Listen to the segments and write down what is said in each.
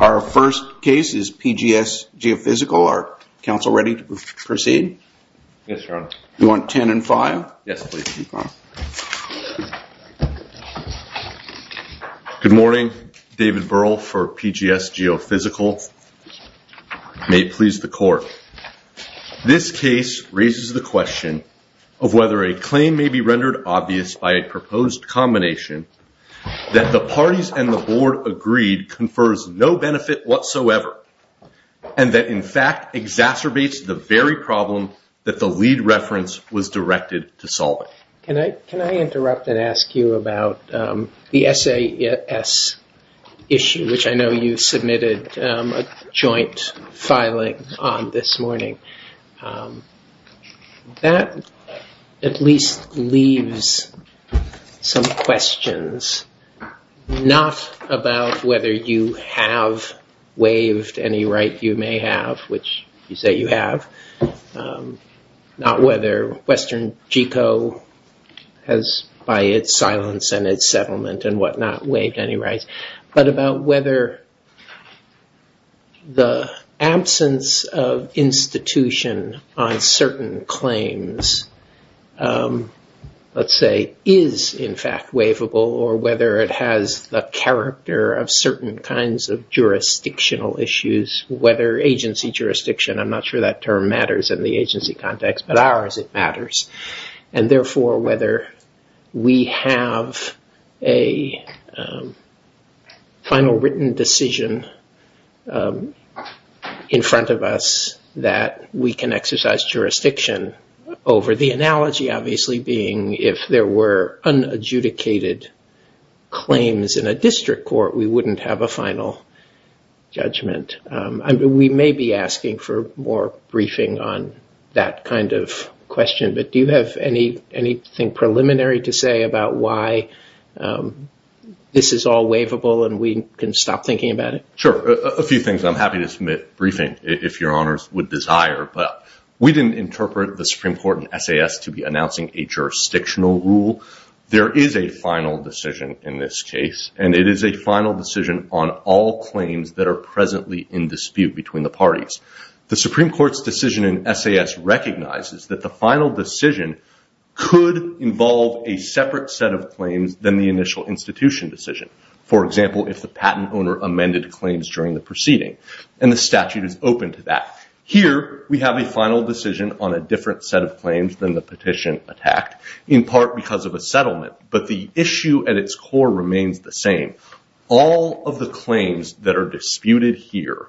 Our first case is PGS Geophysical. Are counsel ready to proceed? Yes, Your Honor. You want 10 and 5? Yes, please. Good morning. David Burrell for PGS Geophysical. May it please the court. This case raises the question of whether a claim may be rendered obvious by a proposed combination that the parties and the board agreed confers no benefit whatsoever, and that, in fact, exacerbates the very problem that the lead reference was directed to solve. Can I interrupt and ask you about the SAS issue, which I know you submitted a joint filing on this morning? That, at least, leaves some questions, not about whether you have waived any right you may have, which you say you have, not whether Western GECO has, by its silence and its settlement and what not, waived any rights, but about whether the absence of institution on certain claims, let's say, is, in fact, waivable, or whether it has the character of certain kinds of jurisdictional issues, whether agency jurisdiction, I'm not sure that term matters in the agency context, but ours, it matters. And therefore, whether we have a final written decision in front of us that we can exercise jurisdiction over the analogy, obviously, being if there were unadjudicated claims in a district court, we wouldn't have a final judgment. We may be asking for more briefing on that kind of question, but do you have anything preliminary to say about why this is all waivable and we can stop thinking about it? Sure, a few things I'm happy to submit briefing, if your honors would desire, but we didn't interpret the Supreme Court and SAS to be announcing a jurisdictional rule. There is a final decision in this case, and it is a final decision on all claims that are presently in dispute between the parties. The Supreme Court's decision in SAS recognizes that the final decision could involve a separate set of claims than the initial institution decision. For example, if the patent owner amended claims during the proceeding, and the statute is open to that. Here, we have a final decision on a different set of claims than the petition attacked, in part because of a settlement, but the issue at its core remains the same. All of the claims that are disputed here,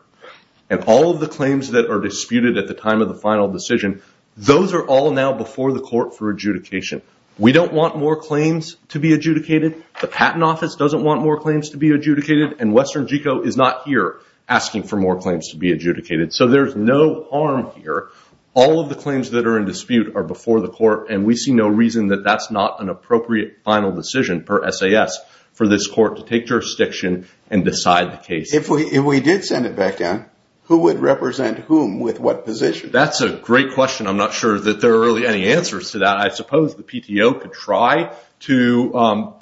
and all of the claims that are disputed at the time of the final decision, those are all now before the court for adjudication. We don't want more claims to be adjudicated. The patent office doesn't want more claims to be adjudicated, and Western Geco is not here asking for more claims to be adjudicated, so there's no harm here. All of the claims that are in dispute are before the court, and we see no reason that that's not an appropriate final decision per SAS for this court to take jurisdiction and decide the case. If we did send it back down, who would represent whom with what position? That's a great question. I'm not sure that there are really any answers to that. I suppose the PTO could try to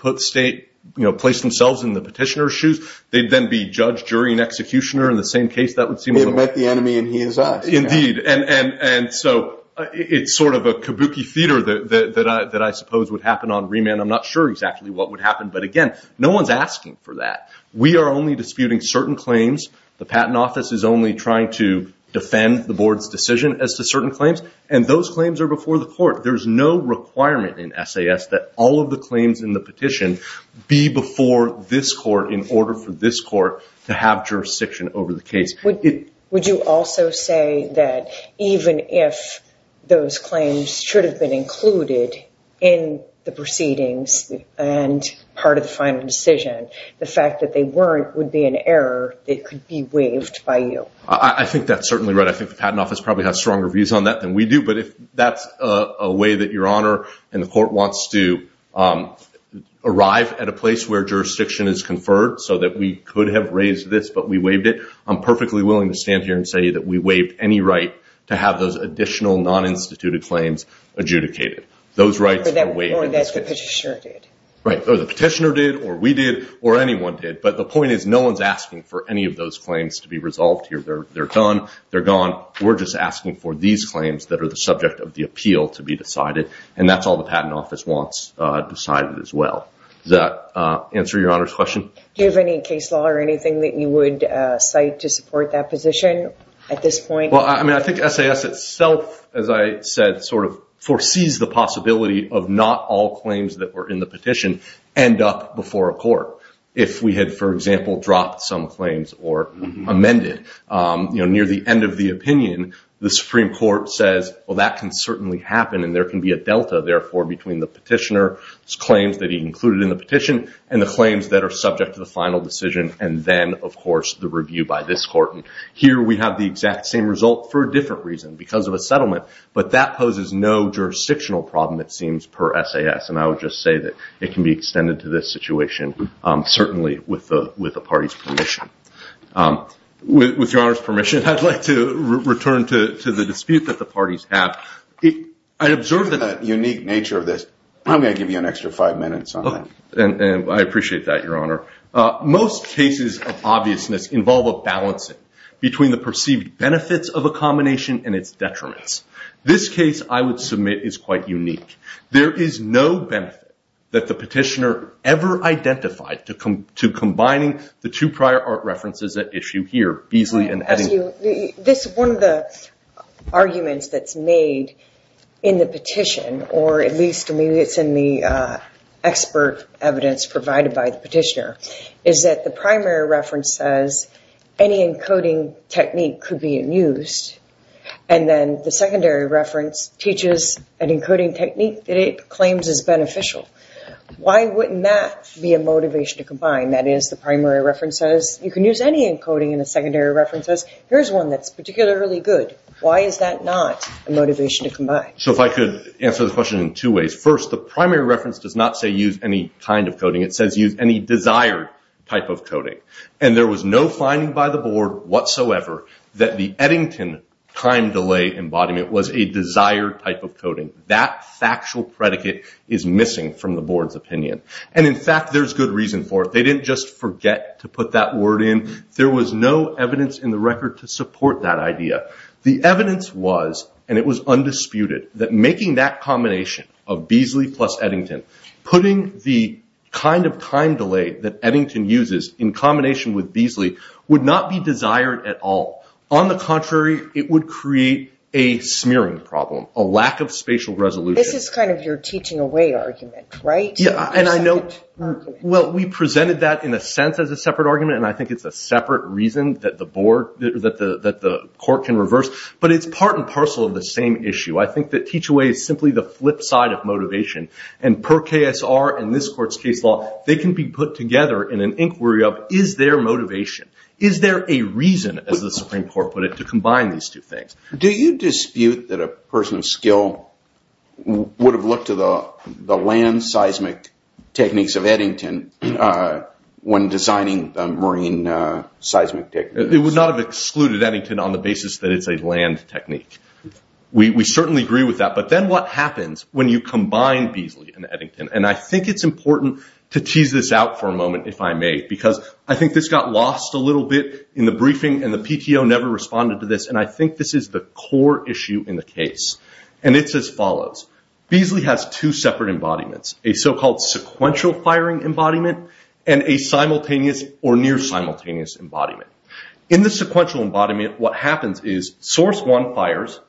place themselves in the petitioner's shoes. They'd then be judge, jury, and executioner in the same case. They'd make the enemy, and he is us. Indeed, and so it's sort of a kabuki theater that I suppose would happen on remand. I'm not sure exactly what would happen, but again, no one's asking for that. We are only disputing certain claims. The patent office is only trying to defend the board's decision as to certain claims, and those claims are before the court. There's no requirement in SAS that all of the claims in the petition be before this court in order for this court to have jurisdiction over the case. Would you also say that even if those claims should have been included in the proceedings and part of the final decision, the fact that they weren't would be an error that could be waived by you? I think that's certainly right. I think the patent office probably has stronger views on that than we do, but if that's a way that Your Honor and the court wants to arrive at a place where jurisdiction is conferred so that we could have raised this, but we waived it, I'm perfectly willing to stand here and say that we waived any right to have those additional non-instituted claims adjudicated. Those rights are waived. But that's what the petitioner did. Right. The petitioner did, or we did, or anyone did, but the point is no one's asking for any of those claims to be resolved here. They're gone. They're gone. We're just asking for these claims that are the subject of the appeal to be decided, and that's all the patent office wants decided as well. Does that answer Your Honor's question? Do you have any case law or anything that you would cite to support that position at this point? Well, I mean, I think SAS itself, as I said, sort of foresees the possibility of not all claims that were in the petition end up before a court. If we had, for example, dropped some claims or amended near the end of the opinion, the Supreme Court says, well, that can certainly happen, and there can be a delta, therefore, between the petitioner's claims that he included in the petition and the claims that are subject to the final decision and then, of course, the review by this court. And here we have the exact same result for a different reason because of a settlement, but that poses no jurisdictional problem, it seems, per SAS, and I would just say that it can be extended to this situation certainly with the party's permission. With Your Honor's permission, I'd like to return to the dispute that the parties have. I observe the unique nature of this. I'm going to give you an extra five minutes on that. I appreciate that, Your Honor. Most cases of obviousness involve a balancing between the perceived benefits of a combination and its detriments. This case, I would submit, is quite unique. There is no benefit that the petitioner ever identified to combining the two prior art references at issue here. One of the arguments that's made in the petition, or at least maybe it's in the expert evidence provided by the petitioner, is that the primary reference says any encoding technique could be in use, and then the secondary reference teaches an encoding technique that it claims is beneficial. Why wouldn't that be a motivation to combine? That is, the primary reference says you can use any encoding, and the secondary reference says here's one that's particularly good. Why is that not a motivation to combine? If I could answer the question in two ways. First, the primary reference does not say use any kind of coding. It says use any desired type of coding. There was no finding by the board whatsoever that the Eddington time delay embodiment was a desired type of coding. That factual predicate is missing from the board's opinion. In fact, there's good reason for it. They didn't just forget to put that word in. There was no evidence in the record to support that idea. The evidence was, and it was undisputed, that making that combination of Beazley plus Eddington, putting the kind of time delay that Eddington uses in combination with Beazley, would not be desired at all. On the contrary, it would create a smearing problem, a lack of spatial resolution. This is kind of your teaching away argument, right? Yeah, and I know we presented that in a sense as a separate argument, and I think it's a separate reason that the court can reverse, but it's part and parcel of the same issue. I think that teach away is simply the flip side of motivation, and per KSR and this court's case law, they can be put together in an inquiry of, is there motivation? Is there a reason, as the Supreme Court put it, to combine these two things? Do you dispute that a person of skill would have looked to the land seismic techniques of Eddington when designing the marine seismic techniques? It would not have excluded Eddington on the basis that it's a land technique. We certainly agree with that, but then what happens when you combine Beazley and Eddington? I think it's important to tease this out for a moment, if I may, because I think this got lost a little bit in the briefing, and the PTO never responded to this, and I think this is the core issue in the case, and it's as follows. Beazley has two separate embodiments, a so-called sequential firing embodiment, and a simultaneous or near-simultaneous embodiment. In the sequential embodiment, what happens is source one fires,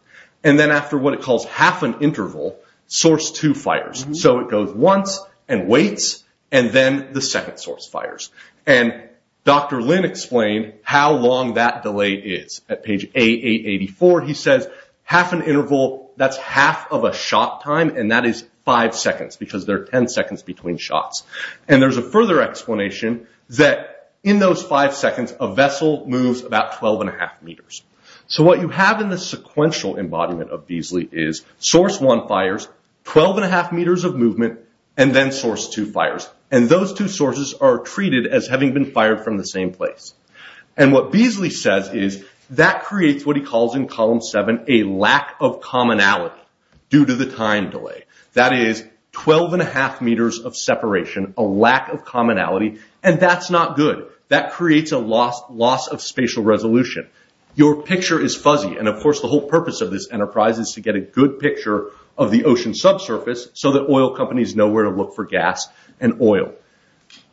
and then after what it calls half an interval, source two fires. So it goes once and waits, and then the second source fires. Dr. Lin explained how long that delay is. At page A884, he says half an interval, that's half of a shot time, and that is five seconds, because there are 10 seconds between shots. There's a further explanation that in those five seconds, a vessel moves about 12.5 meters. So what you have in the sequential embodiment of Beazley is source one fires, 12.5 meters of movement, and then source two fires. And those two sources are treated as having been fired from the same place. And what Beazley says is that creates what he calls in column seven, a lack of commonality due to the time delay. That is 12.5 meters of separation, a lack of commonality, and that's not good. That creates a loss of spatial resolution. Your picture is fuzzy, and of course the whole purpose of this enterprise is to get a good picture of the ocean subsurface, so that oil companies know where to look for gas and oil.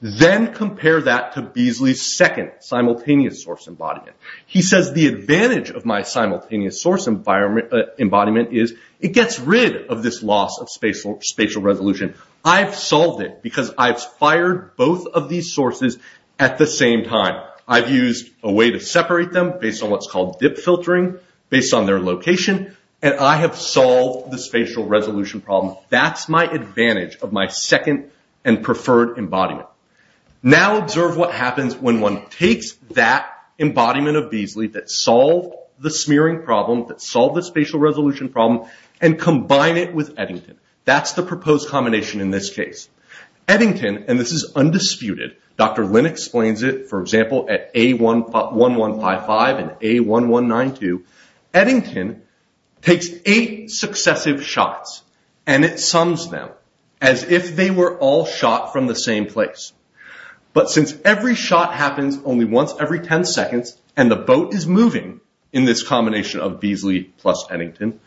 Then compare that to Beazley's second simultaneous source embodiment. He says the advantage of my simultaneous source embodiment is it gets rid of this loss of spatial resolution. I've solved it because I've fired both of these sources at the same time. I've used a way to separate them based on what's called dip filtering, based on their location, and I have solved the spatial resolution problem. That's my advantage of my second and preferred embodiment. Now observe what happens when one takes that embodiment of Beazley that solved the smearing problem, that solved the spatial resolution problem, and combine it with Eddington. That's the proposed combination in this case. Eddington, and this is undisputed, Dr. Lin explains it, for example, at A1155 and A1192. Eddington takes eight successive shots, and it sums them as if they were all shot from the same place. But since every shot happens only once every 10 seconds, and the boat is moving in this combination of Beazley plus Eddington,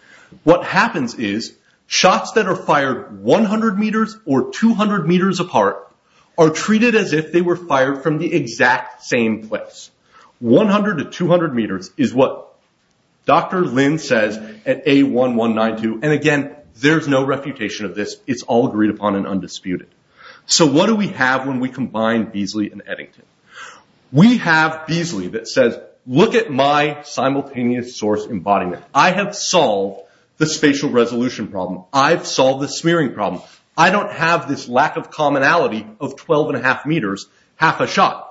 what happens is shots that are fired 100 meters or 200 meters apart are treated as if they were fired from the exact same place. 100 to 200 meters is what Dr. Lin says at A1192, and again, there's no refutation of this. It's all agreed upon and undisputed. So what do we have when we combine Beazley and Eddington? We have Beazley that says, look at my simultaneous source embodiment. I have solved the spatial resolution problem. I've solved the smearing problem. I don't have this lack of commonality of 12.5 meters, half a shot.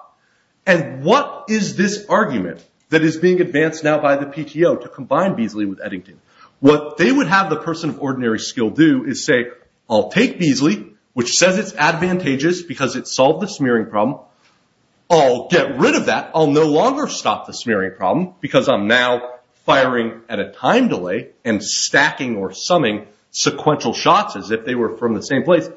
And what is this argument that is being advanced now by the PTO to combine Beazley with Eddington? What they would have the person of ordinary skill do is say, I'll take Beazley, which says it's advantageous because it solved the smearing problem. I'll get rid of that. I'll no longer stop the smearing problem because I'm now firing at a time delay and stacking or summing sequential shots as if they were from the same place.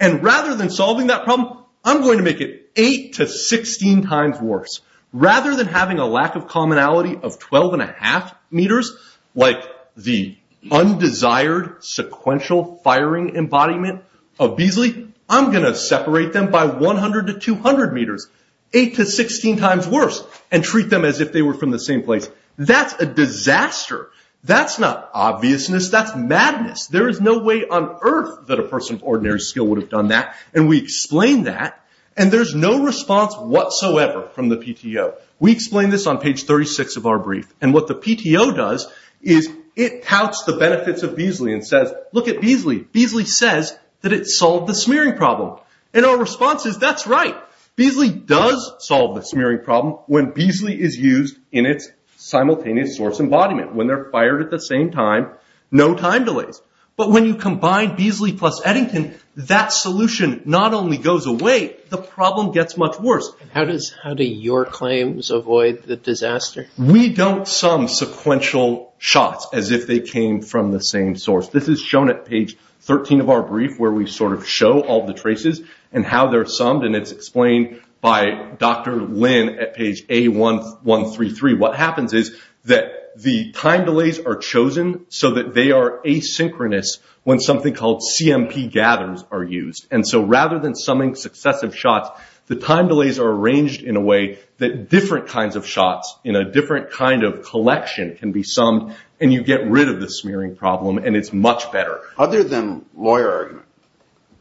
And rather than solving that problem, I'm going to make it 8 to 16 times worse. Rather than having a lack of commonality of 12.5 meters, like the undesired sequential firing embodiment of Beazley, I'm going to separate them by 100 to 200 meters, 8 to 16 times worse, and treat them as if they were from the same place. That's a disaster. That's not obviousness. That's madness. There is no way on earth that a person of ordinary skill would have done that. And we explain that, and there's no response whatsoever from the PTO. We explain this on page 36 of our brief. And what the PTO does is it touts the benefits of Beazley and says, look at Beazley. Beazley says that it solved the smearing problem. And our response is, that's right. Beazley does solve the smearing problem when Beazley is used in its simultaneous source embodiment, when they're fired at the same time, no time delays. But when you combine Beazley plus Eddington, that solution not only goes away, the problem gets much worse. How do your claims avoid the disaster? We don't sum sequential shots as if they came from the same source. This is shown at page 13 of our brief, where we sort of show all the traces and how they're summed. And it's explained by Dr. Lin at page A133. What happens is that the time delays are chosen so that they are asynchronous when something called CMP gathers are used. And so rather than summing successive shots, the time delays are arranged in a way that different kinds of shots in a different kind of collection can be summed, and you get rid of the smearing problem, and it's much better. Other than lawyer argument,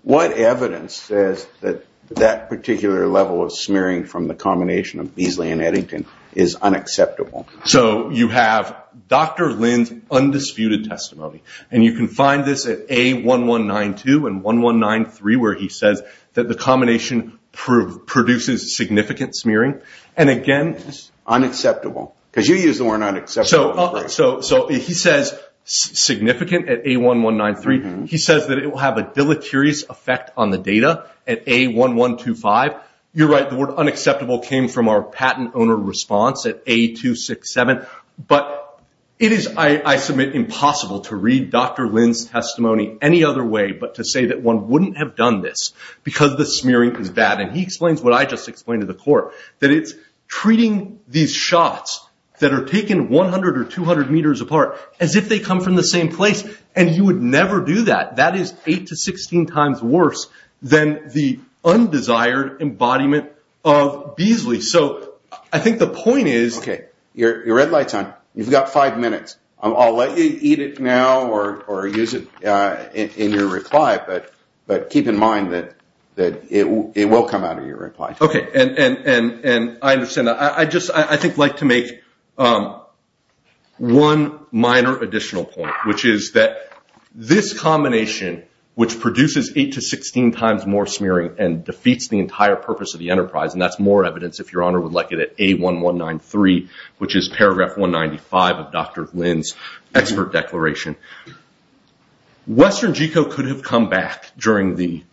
what evidence says that that particular level of smearing from the combination of Beazley and Eddington is unacceptable? So you have Dr. Lin's undisputed testimony. And you can find this at A1192 and 1193, where he says that the combination produces significant smearing. And again... Unacceptable, because you used the word unacceptable. So he says significant at A1193. He says that it will have a deleterious effect on the data at A1125. You're right. The word unacceptable came from our patent owner response at A267. But it is, I submit, impossible to read Dr. Lin's testimony any other way but to say that one wouldn't have done this because the smearing is bad. And he explains what I just explained to the court, that it's treating these shots that are taken 100 or 200 meters apart as if they come from the same place. And you would never do that. That is 8 to 16 times worse than the undesired embodiment of Beazley. So I think the point is... Your red light's on. You've got five minutes. I'll let you eat it now or use it in your reply, but keep in mind that it will come out of your reply. Okay. And I understand that. I'd just, I think, like to make one minor additional point, which is that this combination, which produces 8 to 16 times more smearing and defeats the entire purpose of the enterprise, and that's more evidence, if Your Honor would like it, at A1193, which is paragraph 195 of Dr. Lin's expert declaration. Western Geco could have come back during the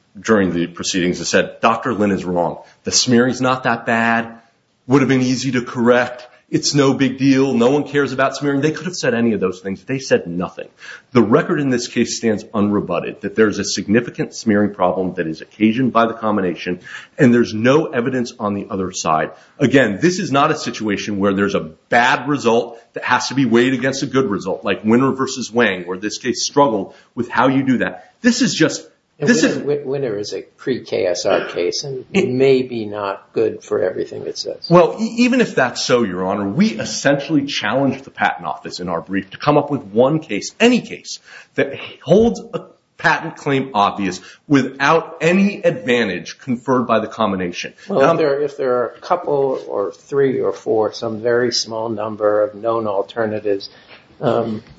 proceedings and said, Dr. Lin is wrong. The smearing's not that bad. Would have been easy to correct. It's no big deal. No one cares about smearing. They could have said any of those things. They said nothing. The record in this case stands unrebutted, that there's a significant smearing problem that is occasioned by the combination, and there's no evidence on the other side. Again, this is not a situation where there's a bad result that has to be weighed against a good result, like Winner v. Wang, where this case struggled with how you do that. This is just – Winner is a pre-KSR case, and it may be not good for everything it says. Well, even if that's so, Your Honor, we essentially challenge the Patent Office in our brief to come up with one case, any case that holds a patent claim obvious without any advantage conferred by the combination. Well, if there are a couple or three or four, some very small number of known alternatives,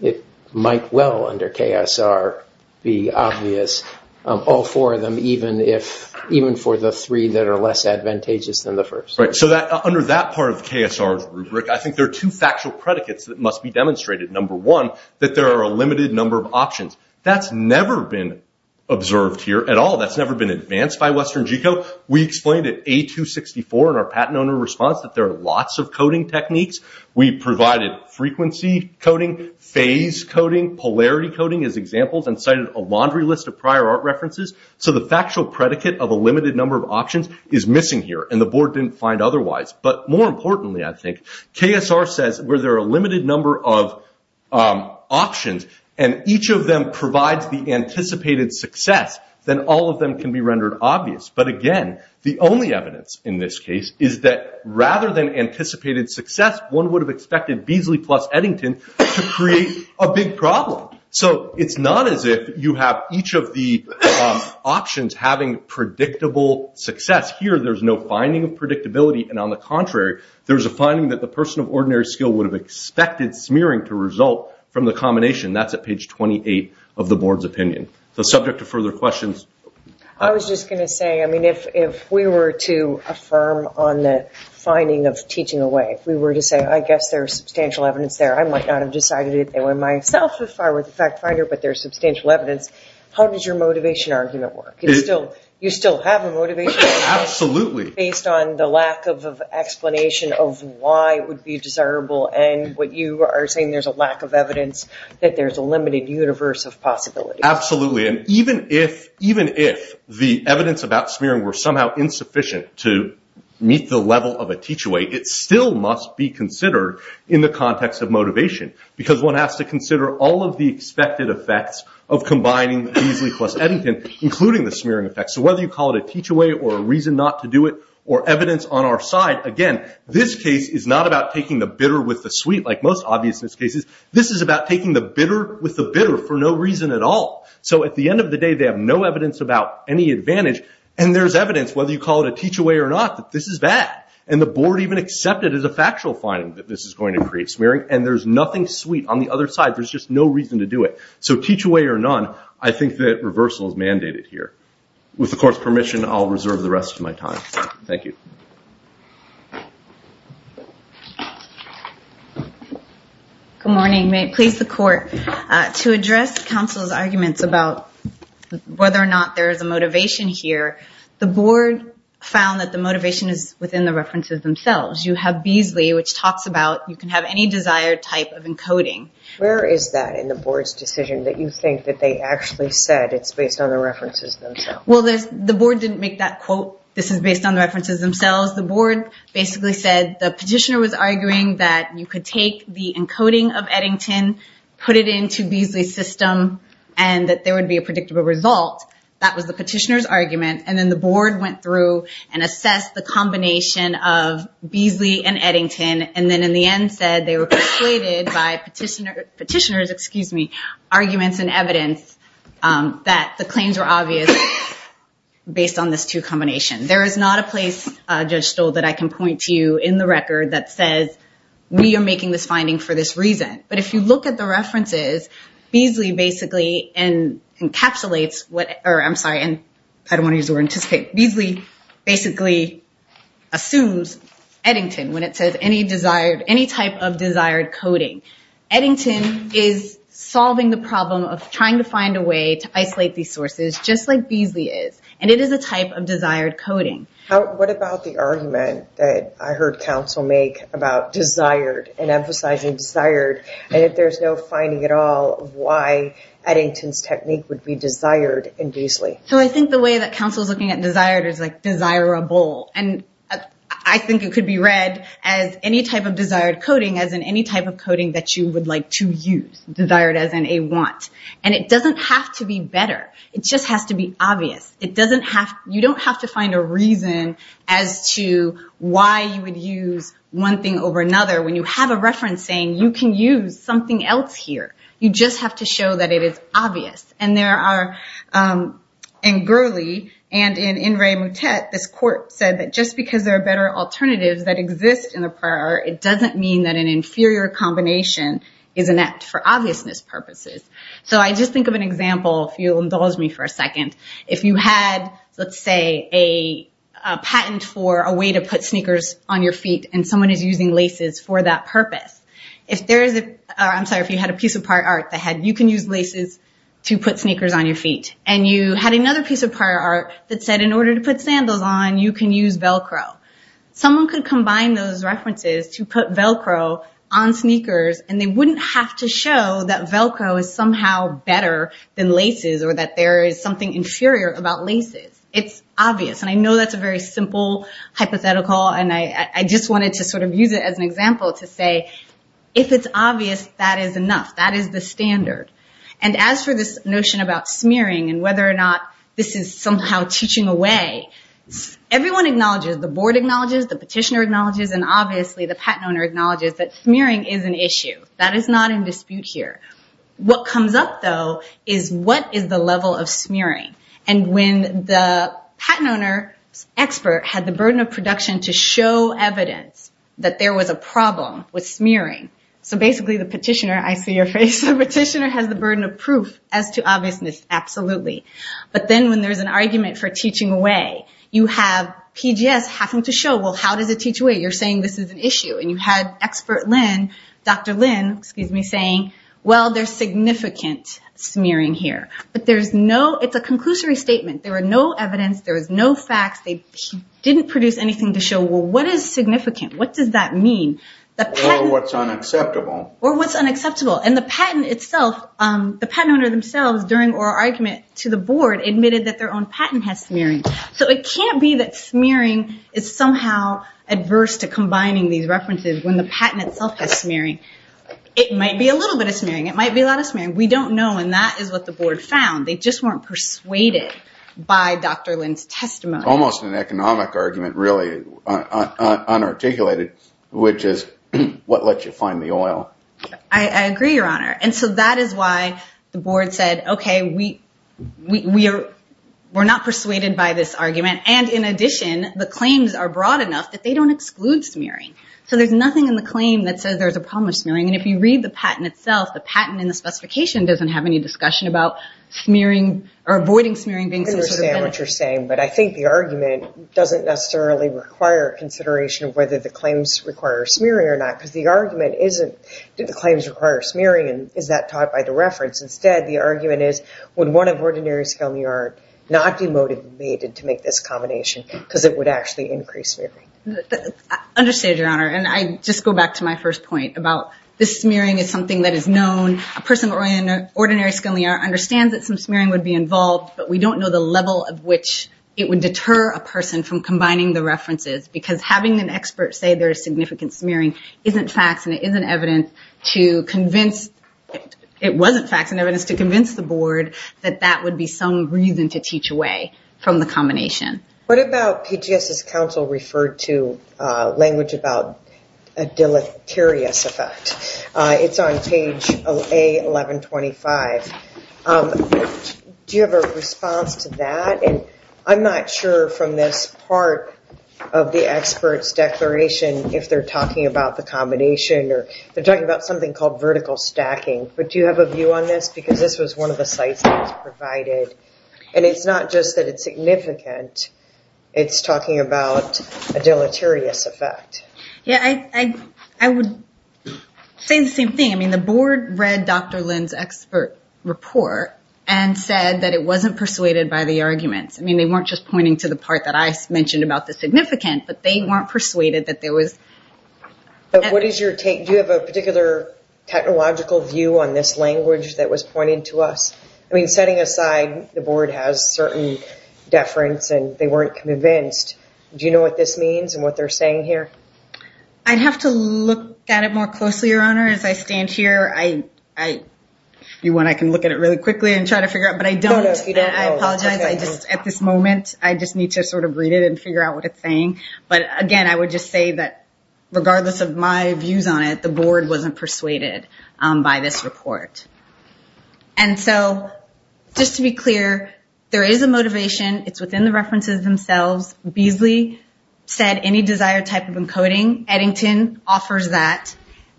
it might well under KSR be obvious, all four of them, even for the three that are less advantageous than the first. So under that part of KSR's rubric, I think there are two factual predicates that must be demonstrated. Number one, that there are a limited number of options. That's never been observed here at all. That's never been advanced by Western G-Code. We explained at A264 in our patent owner response that there are lots of coding techniques. We provided frequency coding, phase coding, polarity coding as examples, and cited a laundry list of prior art references. So the factual predicate of a limited number of options is missing here, and the Board didn't find otherwise. But more importantly, I think, KSR says where there are a limited number of options, and each of them provides the anticipated success, then all of them can be rendered obvious. But again, the only evidence in this case is that rather than anticipated success, one would have expected Beasley plus Eddington to create a big problem. So it's not as if you have each of the options having predictable success. Here, there's no finding of predictability, and on the contrary, there's a finding that the person of ordinary skill would have expected smearing to result from the combination. That's at page 28 of the Board's opinion. So subject to further questions. I was just going to say, I mean, if we were to affirm on the finding of teaching away, if we were to say, I guess there's substantial evidence there, I might not have decided it myself if I were the fact finder, but there's substantial evidence, how does your motivation argument work? You still have a motivation argument? Absolutely. Based on the lack of explanation of why it would be desirable and what you are saying there's a lack of evidence, that there's a limited universe of possibilities. Absolutely. And even if the evidence about smearing were somehow insufficient to meet the level of a teach away, it still must be considered in the context of motivation. Because one has to consider all of the expected effects of combining Beasley plus Eddington, including the smearing effects. So whether you call it a teach away or a reason not to do it or evidence on our side, again, this case is not about taking the bitter with the sweet like most obviousness cases. This is about taking the bitter with the bitter for no reason at all. So at the end of the day they have no evidence about any advantage and there's evidence whether you call it a teach away or not that this is bad. And the Board even accepted as a factual finding that this is going to create smearing and there's nothing sweet on the other side. There's just no reason to do it. So teach away or none, I think that reversal is mandated here. With the Court's permission, I'll reserve the rest of my time. Thank you. Good morning. May it please the Court. To address counsel's arguments about whether or not there is a motivation here, the Board found that the motivation is within the references themselves. You have Beasley, which talks about you can have any desired type of encoding. Where is that in the Board's decision that you think that they actually said that it's based on the references themselves? Well, the Board didn't make that quote. This is based on the references themselves. The Board basically said the petitioner was arguing that you could take the encoding of Eddington, put it into Beasley's system, and that there would be a predictable result. That was the petitioner's argument. And then the Board went through and assessed the combination of Beasley and Eddington, and then in the end said they were persuaded by petitioners' arguments and evidence that the claims were obvious based on this two combinations. There is not a place, Judge Stoll, that I can point to you in the record that says, we are making this finding for this reason. But if you look at the references, Beasley basically encapsulates what – or I'm sorry, I don't want to use the word anticipate. Beasley basically assumes Eddington when it says any type of desired coding. Eddington is solving the problem of trying to find a way to isolate these sources, just like Beasley is, and it is a type of desired coding. What about the argument that I heard counsel make about desired and emphasizing desired, and that there's no finding at all of why Eddington's technique would be desired in Beasley? So I think the way that counsel is looking at desired is like desirable, and I think it could be read as any type of desired coding, as in any type of coding that you would like to use, desired as in a want. And it doesn't have to be better. It just has to be obvious. You don't have to find a reason as to why you would use one thing over another. When you have a reference saying you can use something else here, you just have to show that it is obvious. In Gurley and in In Re Mutet, this court said that just because there are better alternatives that exist in the prior art, it doesn't mean that an inferior combination is inept for obviousness purposes. So I just think of an example, if you'll indulge me for a second. If you had, let's say, a patent for a way to put sneakers on your feet, and someone is using laces for that purpose. I'm sorry, if you had a piece of prior art that had, you can use laces to put sneakers on your feet. And you had another piece of prior art that said, in order to put sandals on, you can use Velcro. Someone could combine those references to put Velcro on sneakers, and they wouldn't have to show that Velcro is somehow better than laces or that there is something inferior about laces. It's obvious, and I know that's a very simple hypothetical, and I just wanted to sort of use it as an example to say, if it's obvious, that is enough. That is the standard. And as for this notion about smearing and whether or not this is somehow teaching away, everyone acknowledges, the board acknowledges, the petitioner acknowledges, and obviously the patent owner acknowledges that smearing is an issue. That is not in dispute here. What comes up, though, is what is the level of smearing? And when the patent owner expert had the burden of production to show evidence that there was a problem with smearing, so basically the petitioner, I see your face, the petitioner has the burden of proof as to obviousness, absolutely. But then when there's an argument for teaching away, you have PGS having to show, well, how does it teach away? You're saying this is an issue. And you had expert Lynn, Dr. Lynn, excuse me, saying, well, there's significant smearing here. But it's a conclusory statement. There was no evidence. There was no facts. They didn't produce anything to show, well, what is significant? What does that mean? Or what's unacceptable. Or what's unacceptable. And the patent owner themselves during oral argument to the board admitted that their own patent has smearing. So it can't be that smearing is somehow adverse to combining these references when the patent itself has smearing. It might be a little bit of smearing. It might be a lot of smearing. We don't know. And that is what the board found. They just weren't persuaded by Dr. Lynn's testimony. It's almost an economic argument, really, unarticulated, which is what lets you find the oil. I agree, Your Honor. And so that is why the board said, okay, we're not persuaded by this argument. And in addition, the claims are broad enough that they don't exclude smearing. So there's nothing in the claim that says there's a problem with smearing. And if you read the patent itself, the patent and the specification doesn't have any discussion about smearing or avoiding smearing being considered a benefit. I understand what you're saying, but I think the argument doesn't necessarily require consideration of whether the claims require smearing or not. Because the argument isn't, do the claims require smearing, and is that taught by the reference? Instead, the argument is, would one of Ordinary Scale New Art not be motivated to make this combination because it would actually increase smearing? I understand, Your Honor. And I just go back to my first point about this smearing is something that is known. A person in Ordinary Scale New Art understands that some smearing would be involved, but we don't know the level of which it would deter a person from combining the references. Because having an expert say there is significant smearing isn't facts and it isn't evidence to convince, it wasn't facts and evidence to convince the board, that that would be some reason to teach away from the combination. What about PGS's counsel referred to language about a deleterious effect? It's on page A1125. Do you have a response to that? And I'm not sure from this part of the expert's declaration if they're talking about the combination or they're talking about something called vertical stacking. But do you have a view on this? Because this was one of the sites that was provided. And it's not just that it's significant. It's talking about a deleterious effect. Yeah, I would say the same thing. I mean, the board read Dr. Lin's expert report and said that it wasn't persuaded by the arguments. I mean, they weren't just pointing to the part that I mentioned about the significant, but they weren't persuaded that there was... What is your take? Do you have a particular technological view on this language that was pointed to us? I mean, setting aside the board has certain deference and they weren't convinced, do you know what this means and what they're saying here? I'd have to look at it more closely, Your Honor. As I stand here, I can look at it really quickly and try to figure out, but I don't. I apologize. At this moment, I just need to sort of read it and figure out what it's saying. But again, I would just say that regardless of my views on it, the board wasn't persuaded by this report. And so just to be clear, there is a motivation. It's within the references themselves. Beasley said any desired type of encoding. Eddington offers that.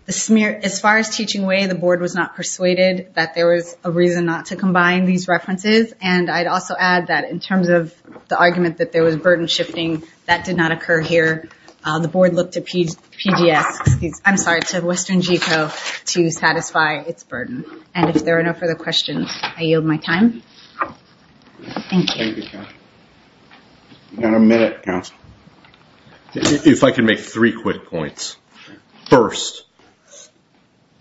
As far as teaching way, the board was not persuaded that there was a reason not to combine these references. And I'd also add that in terms of the argument that there was burden shifting, that did not occur here. The board looked to Western Geco to satisfy its burden. And if there are no further questions, I yield my time. Thank you. Thank you, counsel. You've got a minute, counsel. If I could make three quick points. First,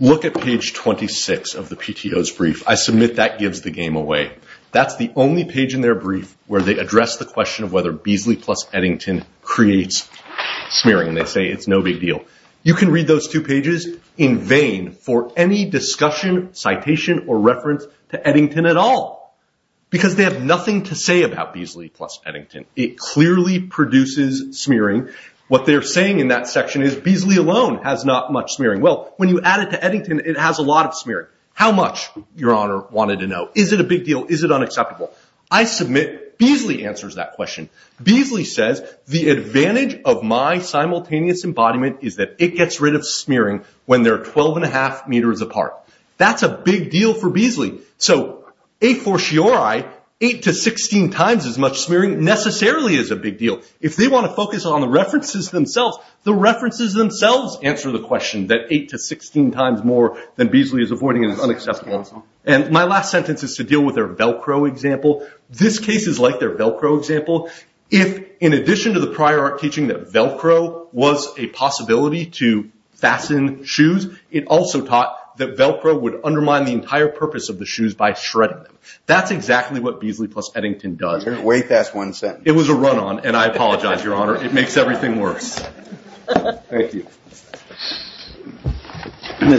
look at page 26 of the PTO's brief. I submit that gives the game away. That's the only page in their brief where they address the question of whether smearing, and they say it's no big deal. You can read those two pages in vain for any discussion, citation, or reference to Eddington at all. Because they have nothing to say about Beasley plus Eddington. It clearly produces smearing. What they're saying in that section is Beasley alone has not much smearing. Well, when you add it to Eddington, it has a lot of smearing. How much, your honor, wanted to know? Is it a big deal? Is it unacceptable? I submit Beasley answers that question. Beasley says, the advantage of my simultaneous embodiment is that it gets rid of smearing when they're 12 1⁄2 meters apart. That's a big deal for Beasley. So a fortiori, 8 to 16 times as much smearing necessarily is a big deal. If they want to focus on the references themselves, the references themselves answer the question that 8 to 16 times more than Beasley is avoiding is unacceptable. And my last sentence is to deal with their Velcro example. This case is like their Velcro example. If, in addition to the prior art teaching that Velcro was a possibility to fasten shoes, it also taught that Velcro would undermine the entire purpose of the shoes by shredding them. That's exactly what Beasley plus Eddington does. Wait, that's one sentence. It was a run-on, and I apologize, your honor. It makes everything worse. Thank you.